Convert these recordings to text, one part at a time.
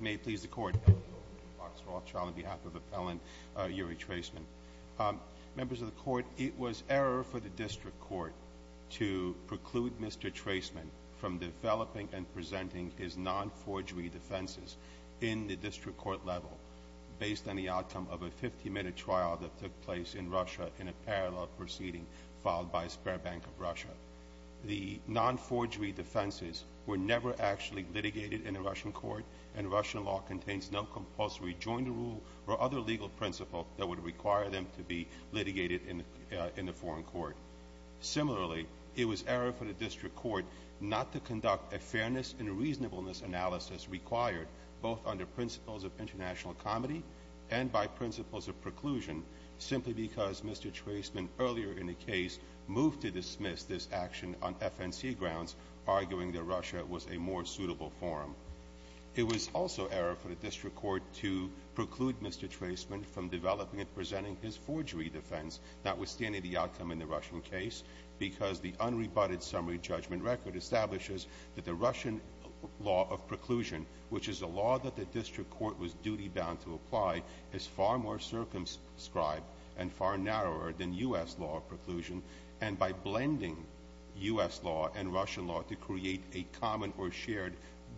May it please the Court. Boxer Rothschild on behalf of Appellant Uri Traisman. Members of the Court, it was error for the District Court to preclude Mr. Traisman from developing and presenting his non-forgery defenses in the District Court level based on the outcome of a 50-minute trial that took place in Russia in a parallel proceeding filed by Sberbank of Russia. The non-forgery defenses were never actually litigated in a Russian court and Russian law contains no compulsory joint rule or other legal principle that would require them to be litigated in the foreign court. Similarly, it was error for the District Court not to conduct a fairness and reasonableness analysis required both under principles of international comedy and by principles of preclusion simply because Mr. Traisman earlier in the case moved to dismiss this action on arguing that Russia was a more suitable forum. It was also error for the District Court to preclude Mr. Traisman from developing and presenting his forgery defense notwithstanding the outcome in the Russian case because the unrebutted summary judgment record establishes that the Russian law of preclusion, which is a law that the District Court was duty-bound to apply, is far more circumscribed and far narrower than U.S. law of preclusion, and by blending U.S. law and Russian law to create a common or shared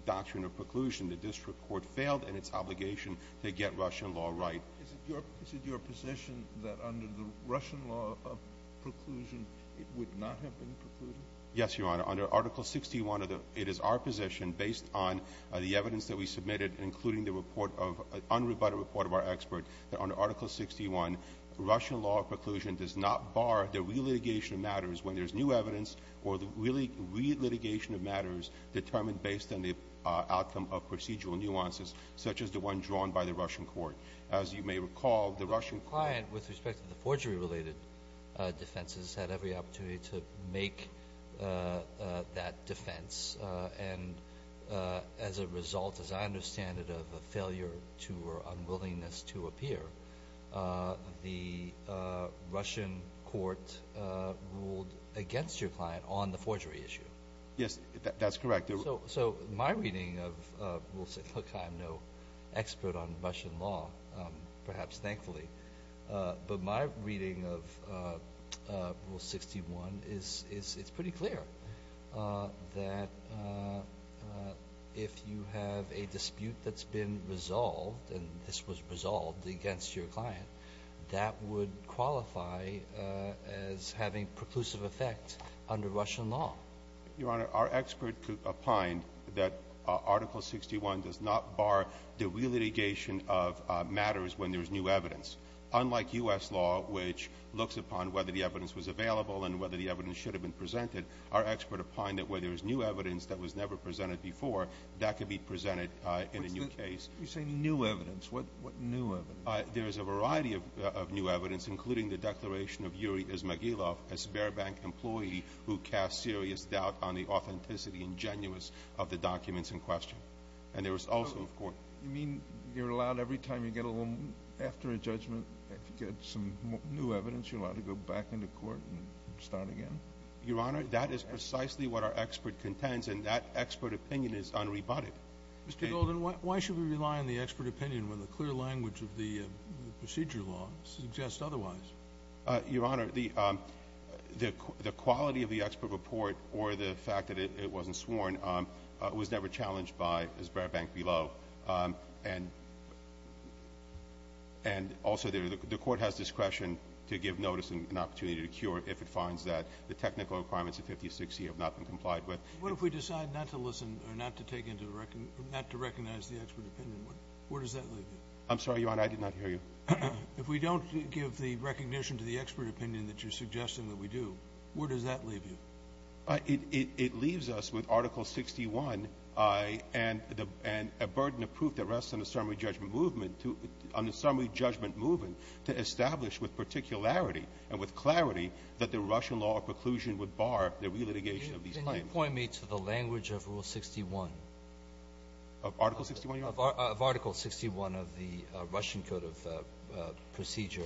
doctrine of preclusion, the District Court failed in its obligation to get Russian law right. Is it your position that under the Russian law of preclusion, it would not have been precluded? Yes, Your Honor. Under Article 61, it is our position, based on the evidence that we submitted, including the unrebutted report of our expert, that under Article 61, Russian law of preclusion does not bar the relitigation of matters when there's new evidence or the relitigation of matters determined based on the outcome of procedural nuances, such as the one drawn by the Russian court. As you may recall, the Russian court ---- The client, with respect to the forgery-related defenses, had every opportunity to make that defense, and as a result, as I understand it, of a failure to or unwillingness to appear, the Russian court ruled against your client on the forgery issue. Yes, that's correct. So my reading of Rule 61 ---- look, I'm no expert on Russian law, perhaps thankfully. But my reading of Rule 61 is it's pretty clear that if you have a dispute that's been resolved, and this was resolved against your client, that would qualify as having preclusive effect under Russian law. Your Honor, our expert opined that Article 61 does not bar the relitigation of matters when there's new evidence. Unlike U.S. law, which looks upon whether the evidence was available and whether the evidence should have been presented, our expert opined that where there was new You say new evidence. What new evidence? There is a variety of new evidence, including the declaration of Yuri Izmagilov, a Sberbank employee who cast serious doubt on the authenticity and genuineness of the documents in question. And there was also ---- You mean you're allowed every time you get a little ---- after a judgment, if you get some new evidence, you're allowed to go back into court and start again? Your Honor, that is precisely what our expert contends, and that expert opinion is unrebutted. Mr. Golden, why should we rely on the expert opinion when the clear language of the procedure law suggests otherwise? Your Honor, the quality of the expert report or the fact that it wasn't sworn was never challenged by Sberbank below. And also, the Court has discretion to give notice and an opportunity to cure if it finds that the technical requirements of 5060 have not been complied with. What if we decide not to listen or not to take into the ---- not to recognize the expert opinion? Where does that leave you? I'm sorry, Your Honor. I did not hear you. If we don't give the recognition to the expert opinion that you're suggesting that we do, where does that leave you? It leaves us with Article 61 and a burden of proof that rests on the summary judgment movement to establish with particularity and with clarity that the Russian law of preclusion would bar the relitigation of these claims. Could you point me to the language of Rule 61? Of Article 61, Your Honor? Of Article 61 of the Russian Code of Procedure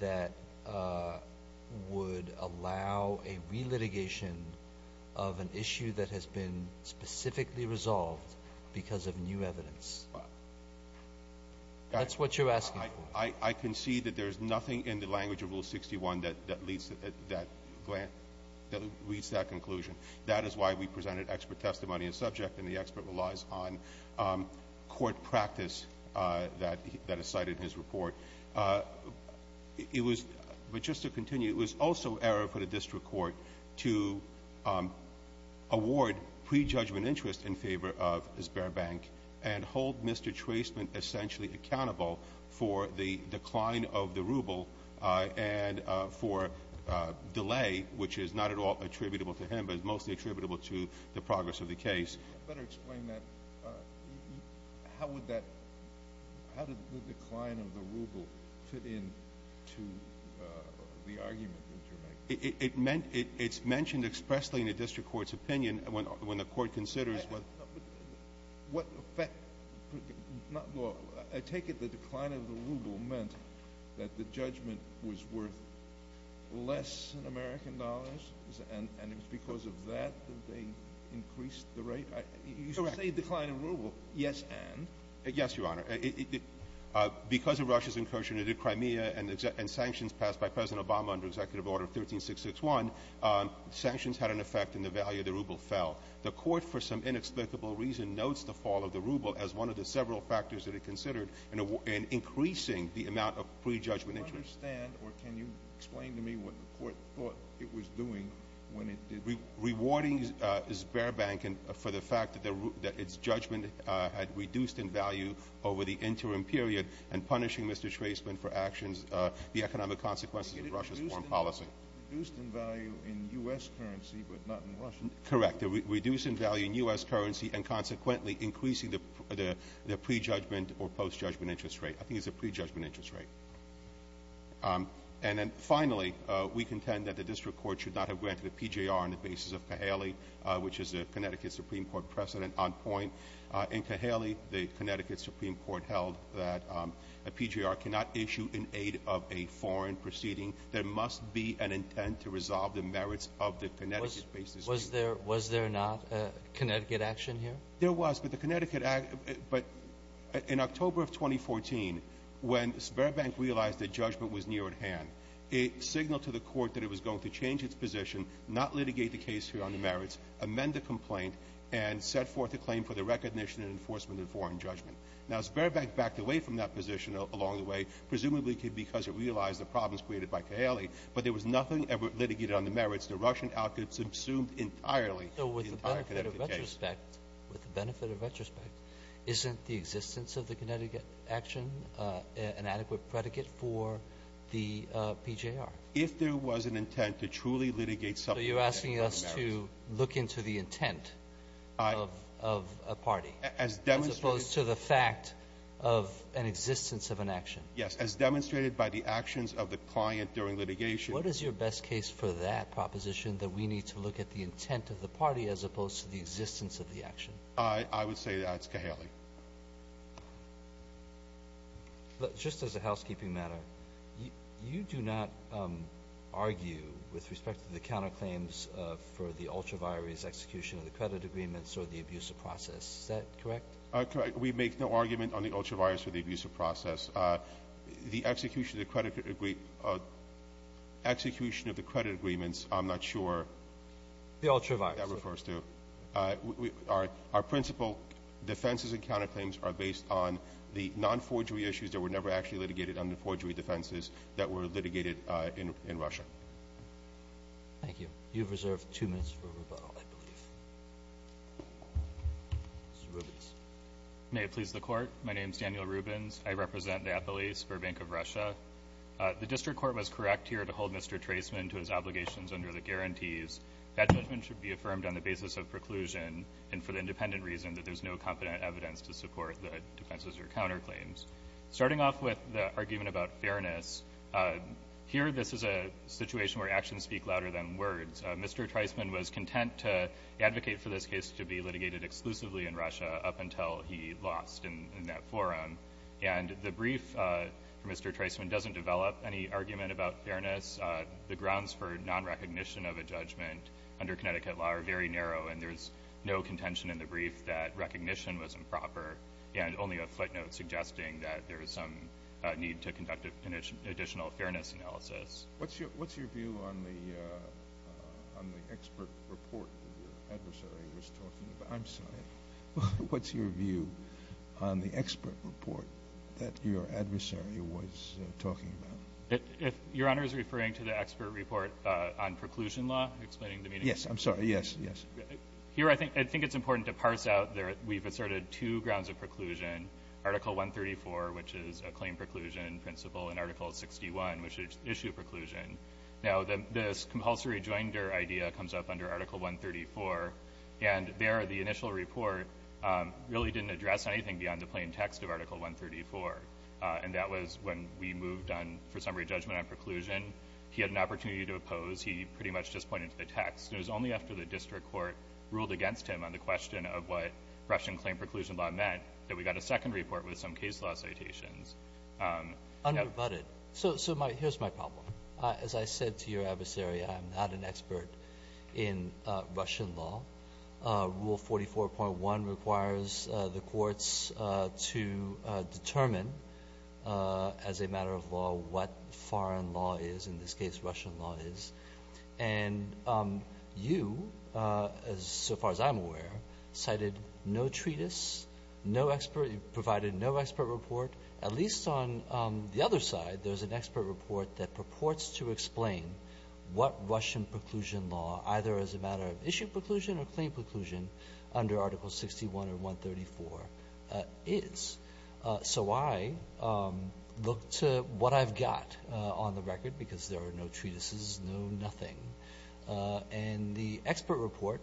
that would allow a relitigation of an issue that has been specifically resolved because of new evidence. That's what you're asking for. I concede that there's nothing in the language of Rule 61 that leads to that ---- that leads to that conclusion. That is why we presented expert testimony in subject, and the expert relies on court practice that is cited in his report. It was ---- but just to continue, it was also error for the district court to award prejudgment interest in favor of Sberbank and hold Mr. Traceman essentially accountable for the decline of the ruble and for delay, which is not at all attributable to him but is mostly attributable to the progress of the case. Could you better explain that? How would that ---- how did the decline of the ruble fit into the argument that you're making? It meant ---- it's mentioned expressly in the district court's opinion when the court considers what ---- Well, I take it the decline of the ruble meant that the judgment was worth less in American dollars, and it was because of that that they increased the rate? Correct. You say decline of ruble. Yes, and? Yes, Your Honor. Because of Russia's incursion into Crimea and sanctions passed by President Obama under Executive Order 13661, sanctions had an effect and the value of the ruble fell. The court, for some inexplicable reason, notes the fall of the ruble as one of the several factors that it considered in increasing the amount of prejudgment interest. Do you understand, or can you explain to me what the court thought it was doing when it did that? Rewarding Sberbank for the fact that its judgment had reduced in value over the interim period and punishing Mr. Traceman for actions, the economic consequences of Russia's foreign policy. Did it reduce in value in U.S. currency but not in Russian? Correct. It reduced in value in U.S. currency and consequently increasing the prejudgment or postjudgment interest rate. I think it's a prejudgment interest rate. And then finally, we contend that the district court should not have granted a PGR on the basis of Cahaley, which is a Connecticut Supreme Court precedent on point. In Cahaley, the Connecticut Supreme Court held that a PGR cannot issue in aid of a foreign proceeding. There must be an intent to resolve the merits of the Connecticut basis. Was there not a Connecticut action here? There was, but the Connecticut – but in October of 2014, when Sberbank realized that judgment was near at hand, it signaled to the court that it was going to change its position, not litigate the case here on the merits, amend the complaint, and set forth a claim for the recognition and enforcement of foreign judgment. Now Sberbank backed away from that position along the way, presumably because it realized the problems created by Cahaley, but there was nothing ever litigated on the merits. The Russian outcomes subsumed entirely the entire Connecticut case. So with the benefit of retrospect, with the benefit of retrospect, isn't the existence of the Connecticut action an adequate predicate for the PGR? If there was an intent to truly litigate something on the merits. So you're asking us to look into the intent of a party? As demonstrated by the actions of the client during litigation. What is your best case for that proposition, that we need to look at the intent of the party as opposed to the existence of the action? I would say that's Cahaley. Just as a housekeeping matter, you do not argue with respect to the counterclaims for the ultraviaries execution of the credit agreements or the abuse of process. Is that correct? Correct. We make no argument on the ultraviaries for the abuse of process. The execution of the credit agreements, I'm not sure. The ultraviaries. That refers to. Our principal defenses and counterclaims are based on the nonforgery issues that were never actually litigated under forgery defenses that were litigated in Russia. Thank you. You have reserved two minutes for rebuttal, I believe. Mr. Rubens. May it please the Court. My name is Daniel Rubens. I represent the Apolyse for Bank of Russia. The district court was correct here to hold Mr. Treisman to his obligations under the guarantees. That judgment should be affirmed on the basis of preclusion and for the independent reason that there's no competent evidence to support the defenses or counterclaims. Starting off with the argument about fairness, here this is a situation where actions speak louder than words. Mr. Treisman was content to advocate for this case to be litigated exclusively in Russia up until he lost in that forum. And the brief for Mr. Treisman doesn't develop any argument about fairness. The grounds for nonrecognition of a judgment under Connecticut law are very narrow, and there's no contention in the brief that recognition was improper. And only a footnote suggesting that there was some need to conduct an additional fairness analysis. What's your view on the expert report your adversary was talking about? I'm sorry. What's your view on the expert report that your adversary was talking about? If Your Honor is referring to the expert report on preclusion law, explaining the meaning. Yes, I'm sorry, yes, yes. Here I think it's important to parse out that we've asserted two grounds of preclusion. Article 134, which is a claim preclusion principle, and Article 61, which is issue preclusion. Now, this compulsory joinder idea comes up under Article 134, and there the initial report really didn't address anything beyond the plain text of Article 134, and that was when we moved on, for summary judgment on preclusion. He had an opportunity to oppose. He pretty much just pointed to the text. It was only after the district court ruled against him on the question of what Russian claim preclusion law meant that we got a second report with some case law citations. Unrebutted. So here's my problem. As I said to your adversary, I'm not an expert in Russian law. Rule 44.1 requires the courts to determine as a matter of law what foreign law is, in this case Russian law is. And you, so far as I'm aware, cited no treatise, provided no expert report, at least on the other side, there's an expert report that purports to explain what Russian preclusion law, either as a matter of issue preclusion or claim preclusion, under Article 61 or 134, is. So I look to what I've got on the record, because there are no treatises, no nothing. And the expert report,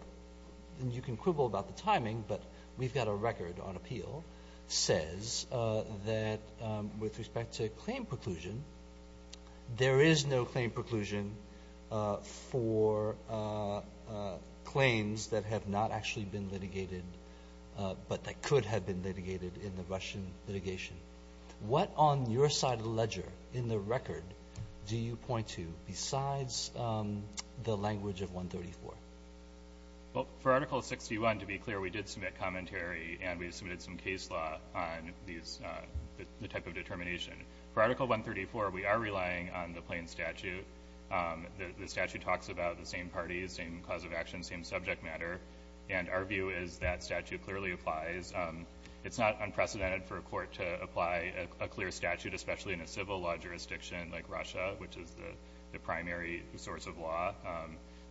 and you can quibble about the timing, but we've got a record on appeal, says that with respect to claim preclusion, there is no claim preclusion for claims that have not actually been litigated, but that could have been litigated in the Russian litigation. What on your side of the ledger, in the record, do you point to besides the language of 134? Well, for Article 61, to be clear, we did submit commentary and we submitted some case law on the type of determination. For Article 134, we are relying on the plain statute. The statute talks about the same parties, same cause of action, same subject matter. And our view is that statute clearly applies. It's not unprecedented for a court to apply a clear statute, especially in a civil law jurisdiction like Russia, which is the primary source of law.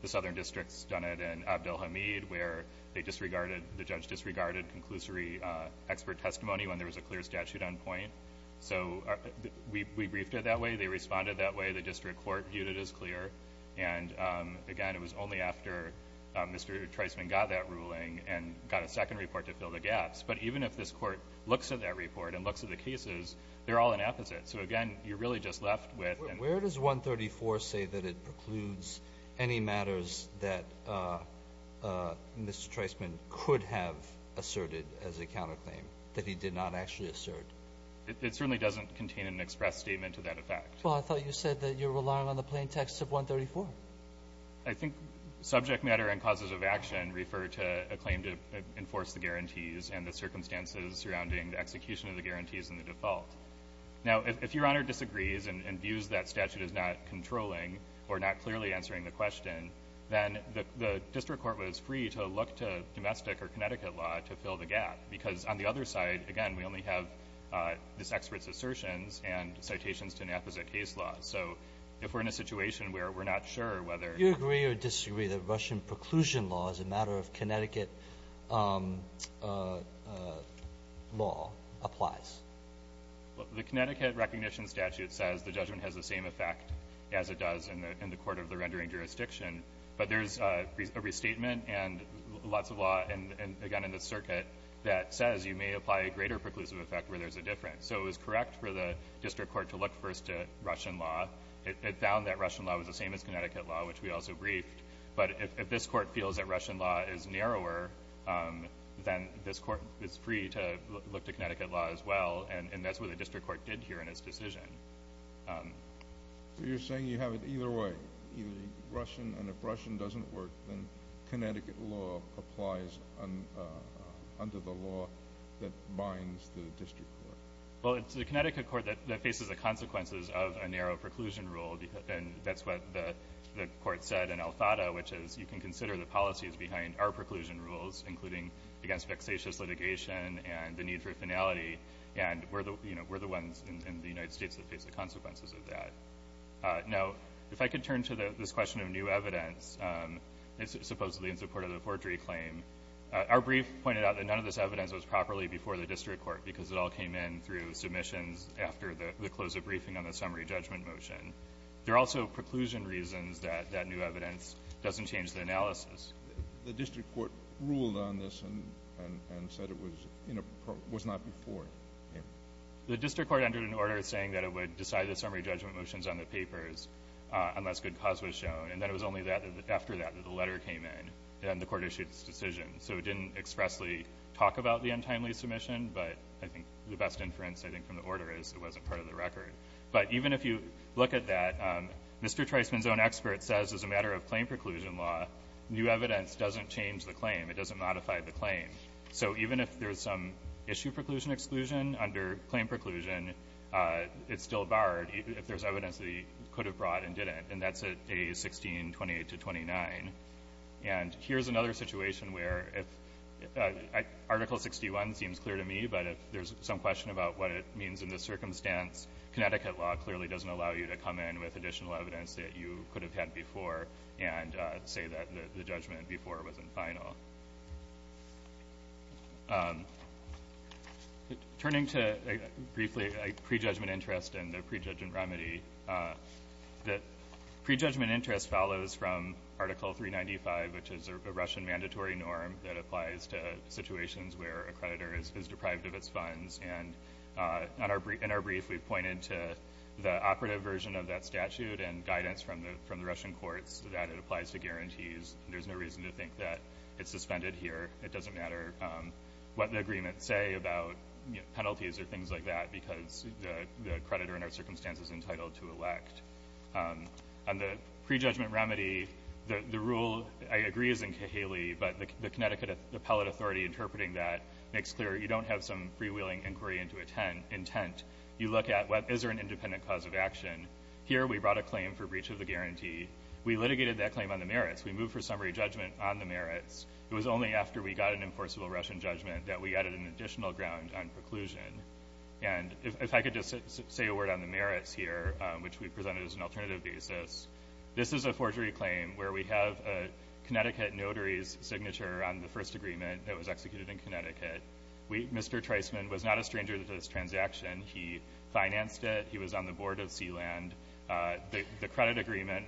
The Southern District's done it in Abdel Hamid, where the judge disregarded conclusory expert testimony when there was a clear statute on point. So we briefed it that way, they responded that way, the district court viewed it as clear. And again, it was only after Mr. Treisman got that ruling and got a second report to fill the gaps. But even if this court looks at that report and looks at the cases, they're all an apposite. So again, you're really just left with- Where does 134 say that it precludes any matters that Mr. Treisman could have asserted as a counterclaim that he did not actually assert? It certainly doesn't contain an express statement to that effect. Well, I thought you said that you're relying on the plaintext of 134. I think subject matter and causes of action refer to a claim to enforce the guarantees and the circumstances surrounding the execution of the guarantees and the default. Now, if Your Honor disagrees and views that statute as not controlling or not clearly answering the question, then the district court was free to look to domestic or Connecticut law to fill the gap. Because on the other side, again, we only have this expert's assertions and citations to an apposite case law. So if we're in a situation where we're not sure whether- Do you agree or disagree that Russian preclusion law as a matter of Connecticut law applies? The Connecticut recognition statute says the judgment has the same effect as it does in the court of the rendering jurisdiction. But there's a restatement and lots of law, and again, in the circuit, that says you may apply a greater preclusive effect where there's a difference. So it was correct for the district court to look first at Russian law. It found that Russian law was the same as Connecticut law, which we also briefed. But if this court feels that Russian law is narrower, then this court is free to look to Connecticut law as well. And that's what the district court did here in its decision. So you're saying you have it either way, either Russian. And if Russian doesn't work, then Connecticut law applies under the law that binds the district court. Well, it's the Connecticut court that faces the consequences of a narrow preclusion rule. And that's what the court said in Alfada, which is you can consider the policies behind our preclusion rules, including against vexatious litigation and the need for finality. And we're the ones in the United States that face the consequences of that. Now, if I could turn to this question of new evidence, supposedly in support of the forgery claim. Our brief pointed out that none of this evidence was properly before the district court because it all came in through submissions after the close of briefing on the summary judgment motion. There are also preclusion reasons that that new evidence doesn't change the analysis. The district court ruled on this and said it was not before. The district court entered an order saying that it would decide the summary judgment motions on the papers unless good cause was shown. And then it was only after that that the letter came in and the court issued its decision. So it didn't expressly talk about the untimely submission, but I think the best inference I think from the order is it wasn't part of the record. But even if you look at that, Mr. Treisman's own expert says as a matter of claim preclusion law, new evidence doesn't change the claim. It doesn't modify the claim. So even if there's some issue preclusion exclusion under claim preclusion, it's still barred if there's evidence that he could have brought and didn't, and that's a 1628 to 29. And here's another situation where if Article 61 seems clear to me, but if there's some question about what it means in this circumstance, Connecticut law clearly doesn't allow you to come in with additional evidence that you could have had before and say that the judgment before wasn't final. Turning to briefly pre-judgment interest and the pre-judgment remedy, the pre-judgment interest follows from Article 395, which is a Russian mandatory norm that applies to situations where a creditor is deprived of its funds. And in our brief, we pointed to the operative version of that statute and guidance from the Russian courts that it applies to guarantees. There's no reason to think that it's suspended here. It doesn't matter what the agreements say about penalties or things like that, because the creditor in our circumstance is entitled to elect. On the pre-judgment remedy, the rule, I agree, is in Cahaley, but the Connecticut appellate authority interpreting that makes clear you don't have some freewheeling inquiry into intent. You look at, well, is there an independent cause of action? Here we brought a claim for breach of the guarantee. We litigated that claim on the merits. We moved for summary judgment on the merits. It was only after we got an enforceable Russian judgment that we added an additional ground on preclusion. And if I could just say a word on the merits here, which we presented as an alternative basis, this is a forgery claim where we have a Connecticut notary's signature on the first agreement that was executed in Connecticut. Mr. Treisman was not a stranger to this transaction. He financed it. He was on the board of Sealand. The credit agreement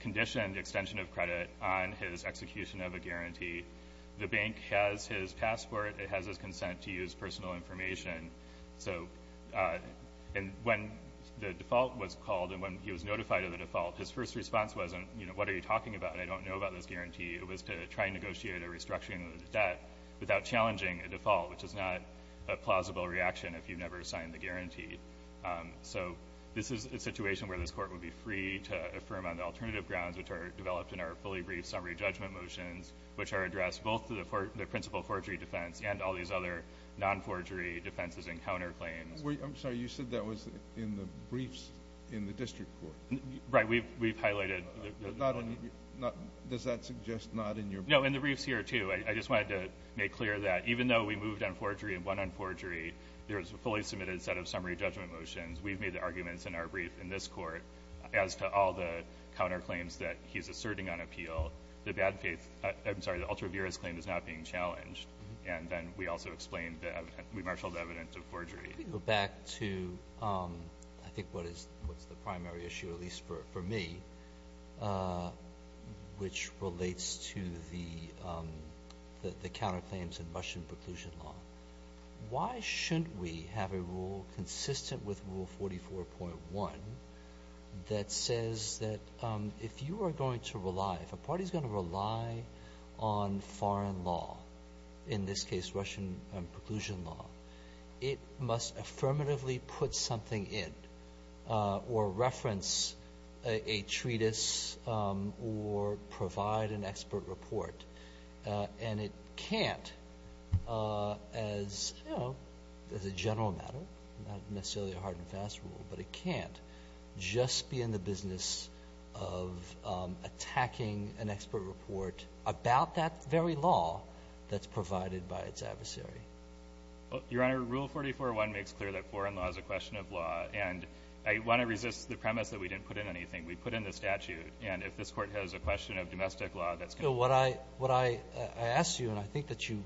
conditioned extension of credit on his execution of a guarantee. The bank has his passport. It has his consent to use personal information. So when the default was called and when he was notified of the default, his first response wasn't, you know, what are you talking about? I don't know about this guarantee. It was to try and negotiate a restructuring of the debt without challenging a default, which is not a plausible reaction if you've never signed the guarantee. So this is a situation where this Court would be free to affirm on the alternative grounds which are developed in our fully brief summary judgment motions, which are addressed both to the principal forgery defense and all these other nonforgery defenses and counterclaims. Kennedy. I'm sorry. You said that was in the briefs in the district court. Right. We've highlighted. Does that suggest not in your briefs? No, in the briefs here, too. I just wanted to make clear that even though we moved on forgery and went on forgery, there is a fully submitted set of summary judgment motions. We've made the arguments in our brief in this Court as to all the counterclaims that he's asserting on appeal. The bad faith, I'm sorry, the ultra vires claim is not being challenged. And then we also explained that we marshaled evidence of forgery. Let me go back to I think what is the primary issue, at least for me, which relates to the counterclaims in Russian preclusion law. Why shouldn't we have a rule consistent with Rule 44.1 that says that if you are going to rely, if a party is going to rely on foreign law, in this case Russian preclusion law, it must affirmatively put something in or reference a treatise or provide an expert report. And it can't, as a general matter, not necessarily a hard and fast rule, but it can't just be in the business of attacking an expert report about that very law that's provided by its adversary. Your Honor, Rule 44.1 makes clear that foreign law is a question of law. And I want to resist the premise that we didn't put in anything. We put in the statute. And if this Court has a question of domestic law, that's going to be a question of domestic law. So what I ask you, and I think that you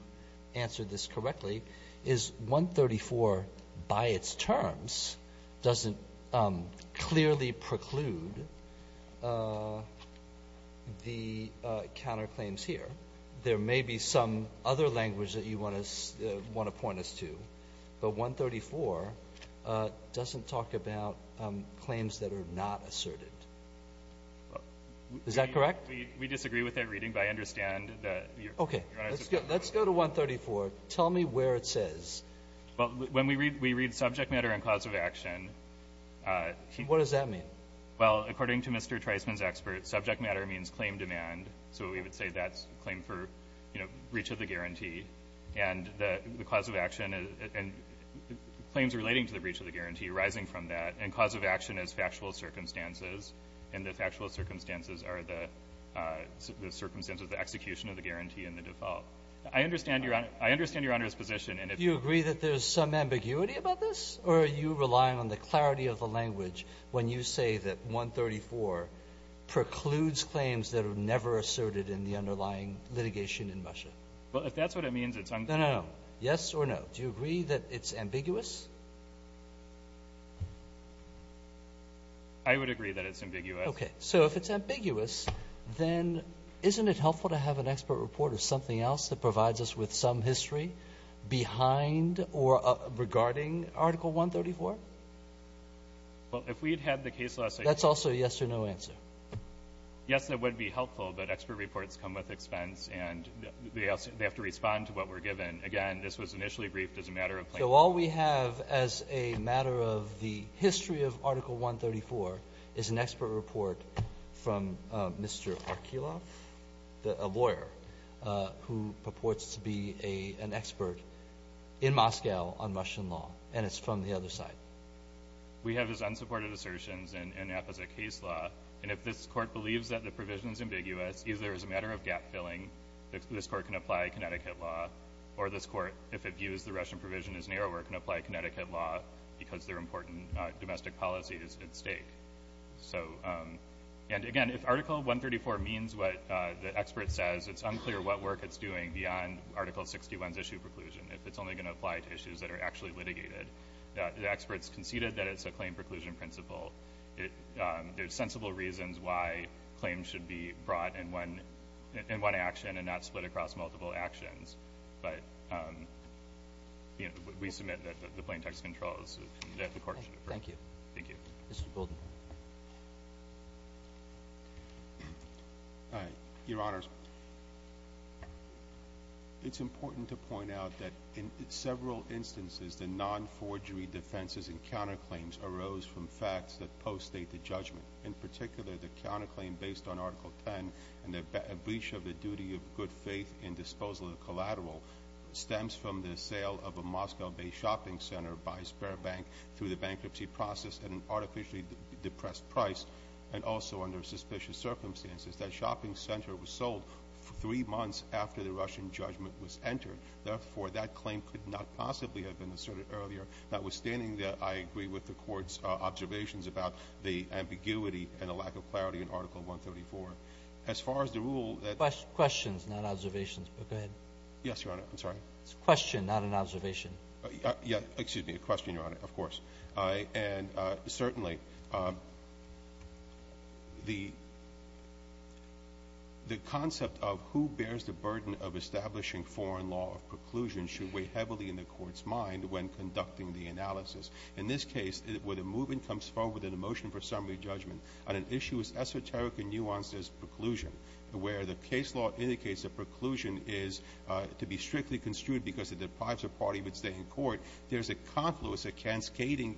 answered this correctly, is 134 by its terms doesn't clearly preclude the counterclaims here. There may be some other language that you want to point us to, but 134 doesn't talk about claims that are not asserted. Is that correct? We disagree with that reading, but I understand that your Honor's support. Okay. Let's go to 134. Tell me where it says. Well, when we read subject matter and cause of action, he — What does that mean? Well, according to Mr. Treisman's expert, subject matter means claim demand. So we would say that's a claim for, you know, breach of the guarantee. And the cause of action and claims relating to the breach of the guarantee arising from that. And cause of action is factual circumstances. And the factual circumstances are the circumstances of the execution of the guarantee and the default. I understand your Honor's position. Do you agree that there's some ambiguity about this? Or are you relying on the clarity of the language when you say that 134 precludes claims that are never asserted in the underlying litigation in Russia? Well, if that's what it means, it's unclear. No, no, no. Yes or no? Do you agree that it's ambiguous? I would agree that it's ambiguous. Okay. So if it's ambiguous, then isn't it helpful to have an expert report or something else that provides us with some history behind or regarding Article 134? Well, if we had had the case last night. That's also a yes or no answer. Yes, that would be helpful. But expert reports come with expense. And they have to respond to what we're given. Again, this was initially briefed as a matter of plain language. So all we have as a matter of the history of Article 134 is an expert report from Mr. Arkulov, a lawyer who purports to be an expert in Moscow on Russian law, and it's from the other side. We have his unsupported assertions in apposite case law. And if this Court believes that the provision is ambiguous, either as a matter of gap-filling, this Court can apply Connecticut law, or this Court, if it views the Russian provision as narrower, can apply Connecticut law because their important domestic policy is at stake. And again, if Article 134 means what the expert says, it's unclear what work it's doing beyond Article 61's issue preclusion, if it's only going to apply to issues that are actually litigated. The experts conceded that it's a claim preclusion principle. There's sensible reasons why claims should be brought in one action and not split across multiple actions. But we submit that the plain text controls that the Court should approve. Thank you. Thank you. Mr. Golden. Your Honors, it's important to point out that in several instances the non-forgery defenses and counterclaims arose from facts that post-State the judgment. In particular, the counterclaim based on Article 10 and the breach of the duty of good faith in disposal of the collateral stems from the sale of a Moscow-based shopping center by a spare bank through the bankruptcy process at an artificially depressed price, and also under suspicious circumstances. That shopping center was sold three months after the Russian judgment was entered. Therefore, that claim could not possibly have been asserted earlier, notwithstanding that I agree with the Court's observations about the ambiguity and the lack of clarity in Article 134. As far as the rule that ---- Questions, not observations, but go ahead. I'm sorry. It's a question, not an observation. Yeah. Excuse me. A question, Your Honor. Of course. And certainly, the concept of who bears the burden of establishing foreign law of preclusion should weigh heavily in the Court's mind when conducting the analysis. In this case, where the movement comes forward with a motion for summary judgment on an issue as esoteric and nuanced as preclusion, where the case law indicates that preclusion is to be strictly construed because it deprives a party of its day in court, there's a confluence, a cascading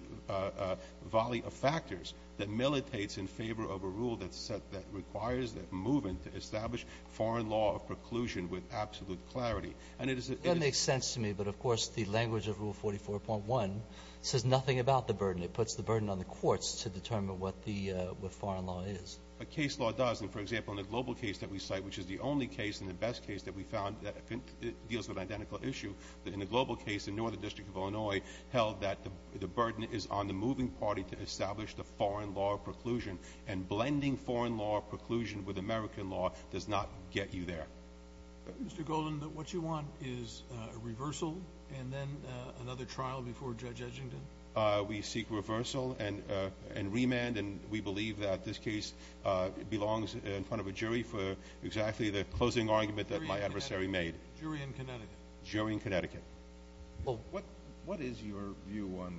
volley of factors that militates in favor of a rule that set the ---- requires the movement to establish foreign law of preclusion with absolute clarity. And it is a ---- That makes sense to me. But, of course, the language of Rule 44.1 says nothing about the burden. It puts the burden on the courts to determine what the ---- what foreign law is. The case law does. And, for example, in the global case that we cite, which is the only case and the best case that we found that deals with an identical issue, in the global case, the Northern District of Illinois held that the burden is on the moving party to establish the foreign law of preclusion. And blending foreign law of preclusion with American law does not get you there. Mr. Golden, what you want is a reversal and then another trial before Judge Edgington? We seek reversal and remand. And we believe that this case belongs in front of a jury for exactly the closing argument that my adversary made. Jury in Connecticut. Jury in Connecticut. Well, what is your view on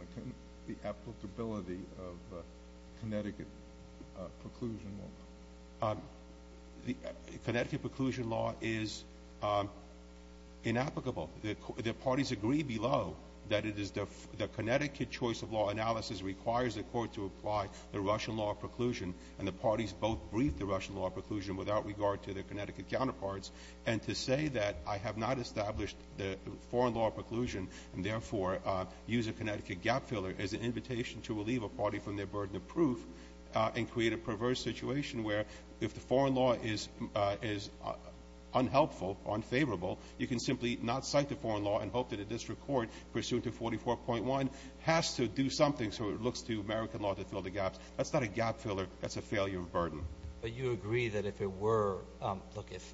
the applicability of Connecticut preclusion law? The Connecticut preclusion law is inapplicable. The parties agree below that it is the Connecticut choice of law analysis requires the court to apply the Russian law of preclusion. And the parties both brief the Russian law of preclusion without regard to their Connecticut counterparts. And to say that I have not established the foreign law of preclusion and, therefore, use a Connecticut gap filler as an invitation to relieve a party from their burden of proof and create a perverse situation where if the foreign law is unhelpful, unfavorable, you can simply not cite the foreign law and hope that a district court, pursuant to 44.1, has to do something so it looks to American law to fill the gaps. That's not a gap filler. That's a failure of burden. But you agree that if it were – look, if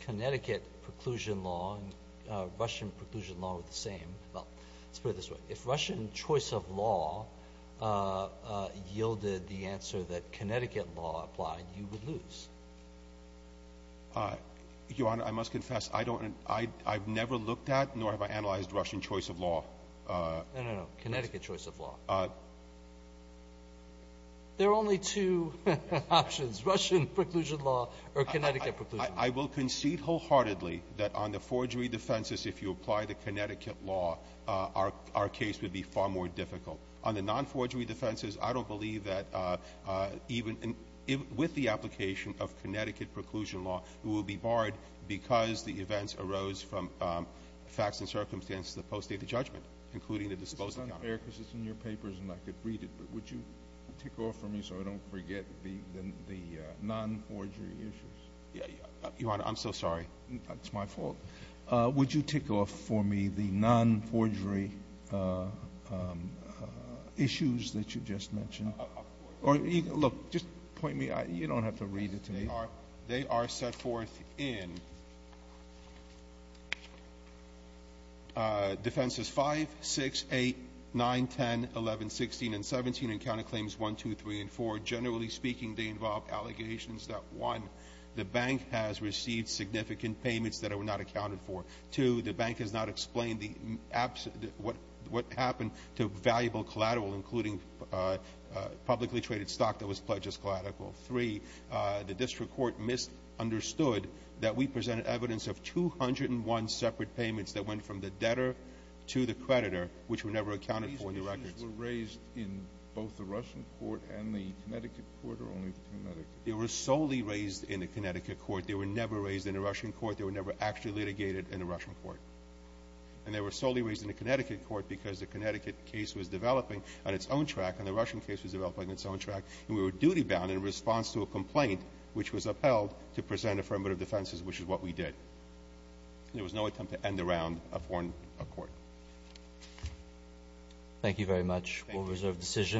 Connecticut preclusion law and Russian preclusion law were the same – well, let's put it this way. If Russian choice of law yielded the answer that Connecticut law applied, you would lose. Your Honor, I must confess, I don't – I've never looked at nor have I analyzed Russian choice of law. No, no, no. Connecticut choice of law. There are only two options, Russian preclusion law or Connecticut preclusion law. I will concede wholeheartedly that on the forgery defenses, if you apply the Connecticut law, our case would be far more difficult. On the nonforgery defenses, I don't agree with the application of Connecticut preclusion law, who will be barred because the events arose from facts and circumstances that postdate the judgment, including the disposal count. It's not fair because it's in your papers and I could read it, but would you tick off for me so I don't forget the nonforgery issues? Your Honor, I'm so sorry. It's my fault. Would you tick off for me the nonforgery issues that you just mentioned? Or look, just point me – you don't have to read it to me. They are set forth in Defenses 5, 6, 8, 9, 10, 11, 16, and 17 in Counterclaims 1, 2, 3, and 4. Generally speaking, they involve allegations that, one, the bank has received significant payments that are not accounted for. Two, the bank has not explained what happened to valuable collateral, including publicly traded stock that was pledged as collateral. Three, the district court misunderstood that we presented evidence of 201 separate payments that went from the debtor to the creditor, which were never accounted for in the records. These issues were raised in both the Russian court and the Connecticut court or only the Connecticut court? They were solely raised in the Connecticut court. They were never raised in the Russian court. They were never actually litigated in the Russian court. And they were solely raised in the Connecticut court because the Connecticut case was developing on its own track and the Russian case was developing on its own track, and we were duty-bound in response to a complaint which was upheld to present affirmative defenses, which is what we did. There was no attempt to end the round of foreign court. Thank you very much. Thank you. We'll reserve decision.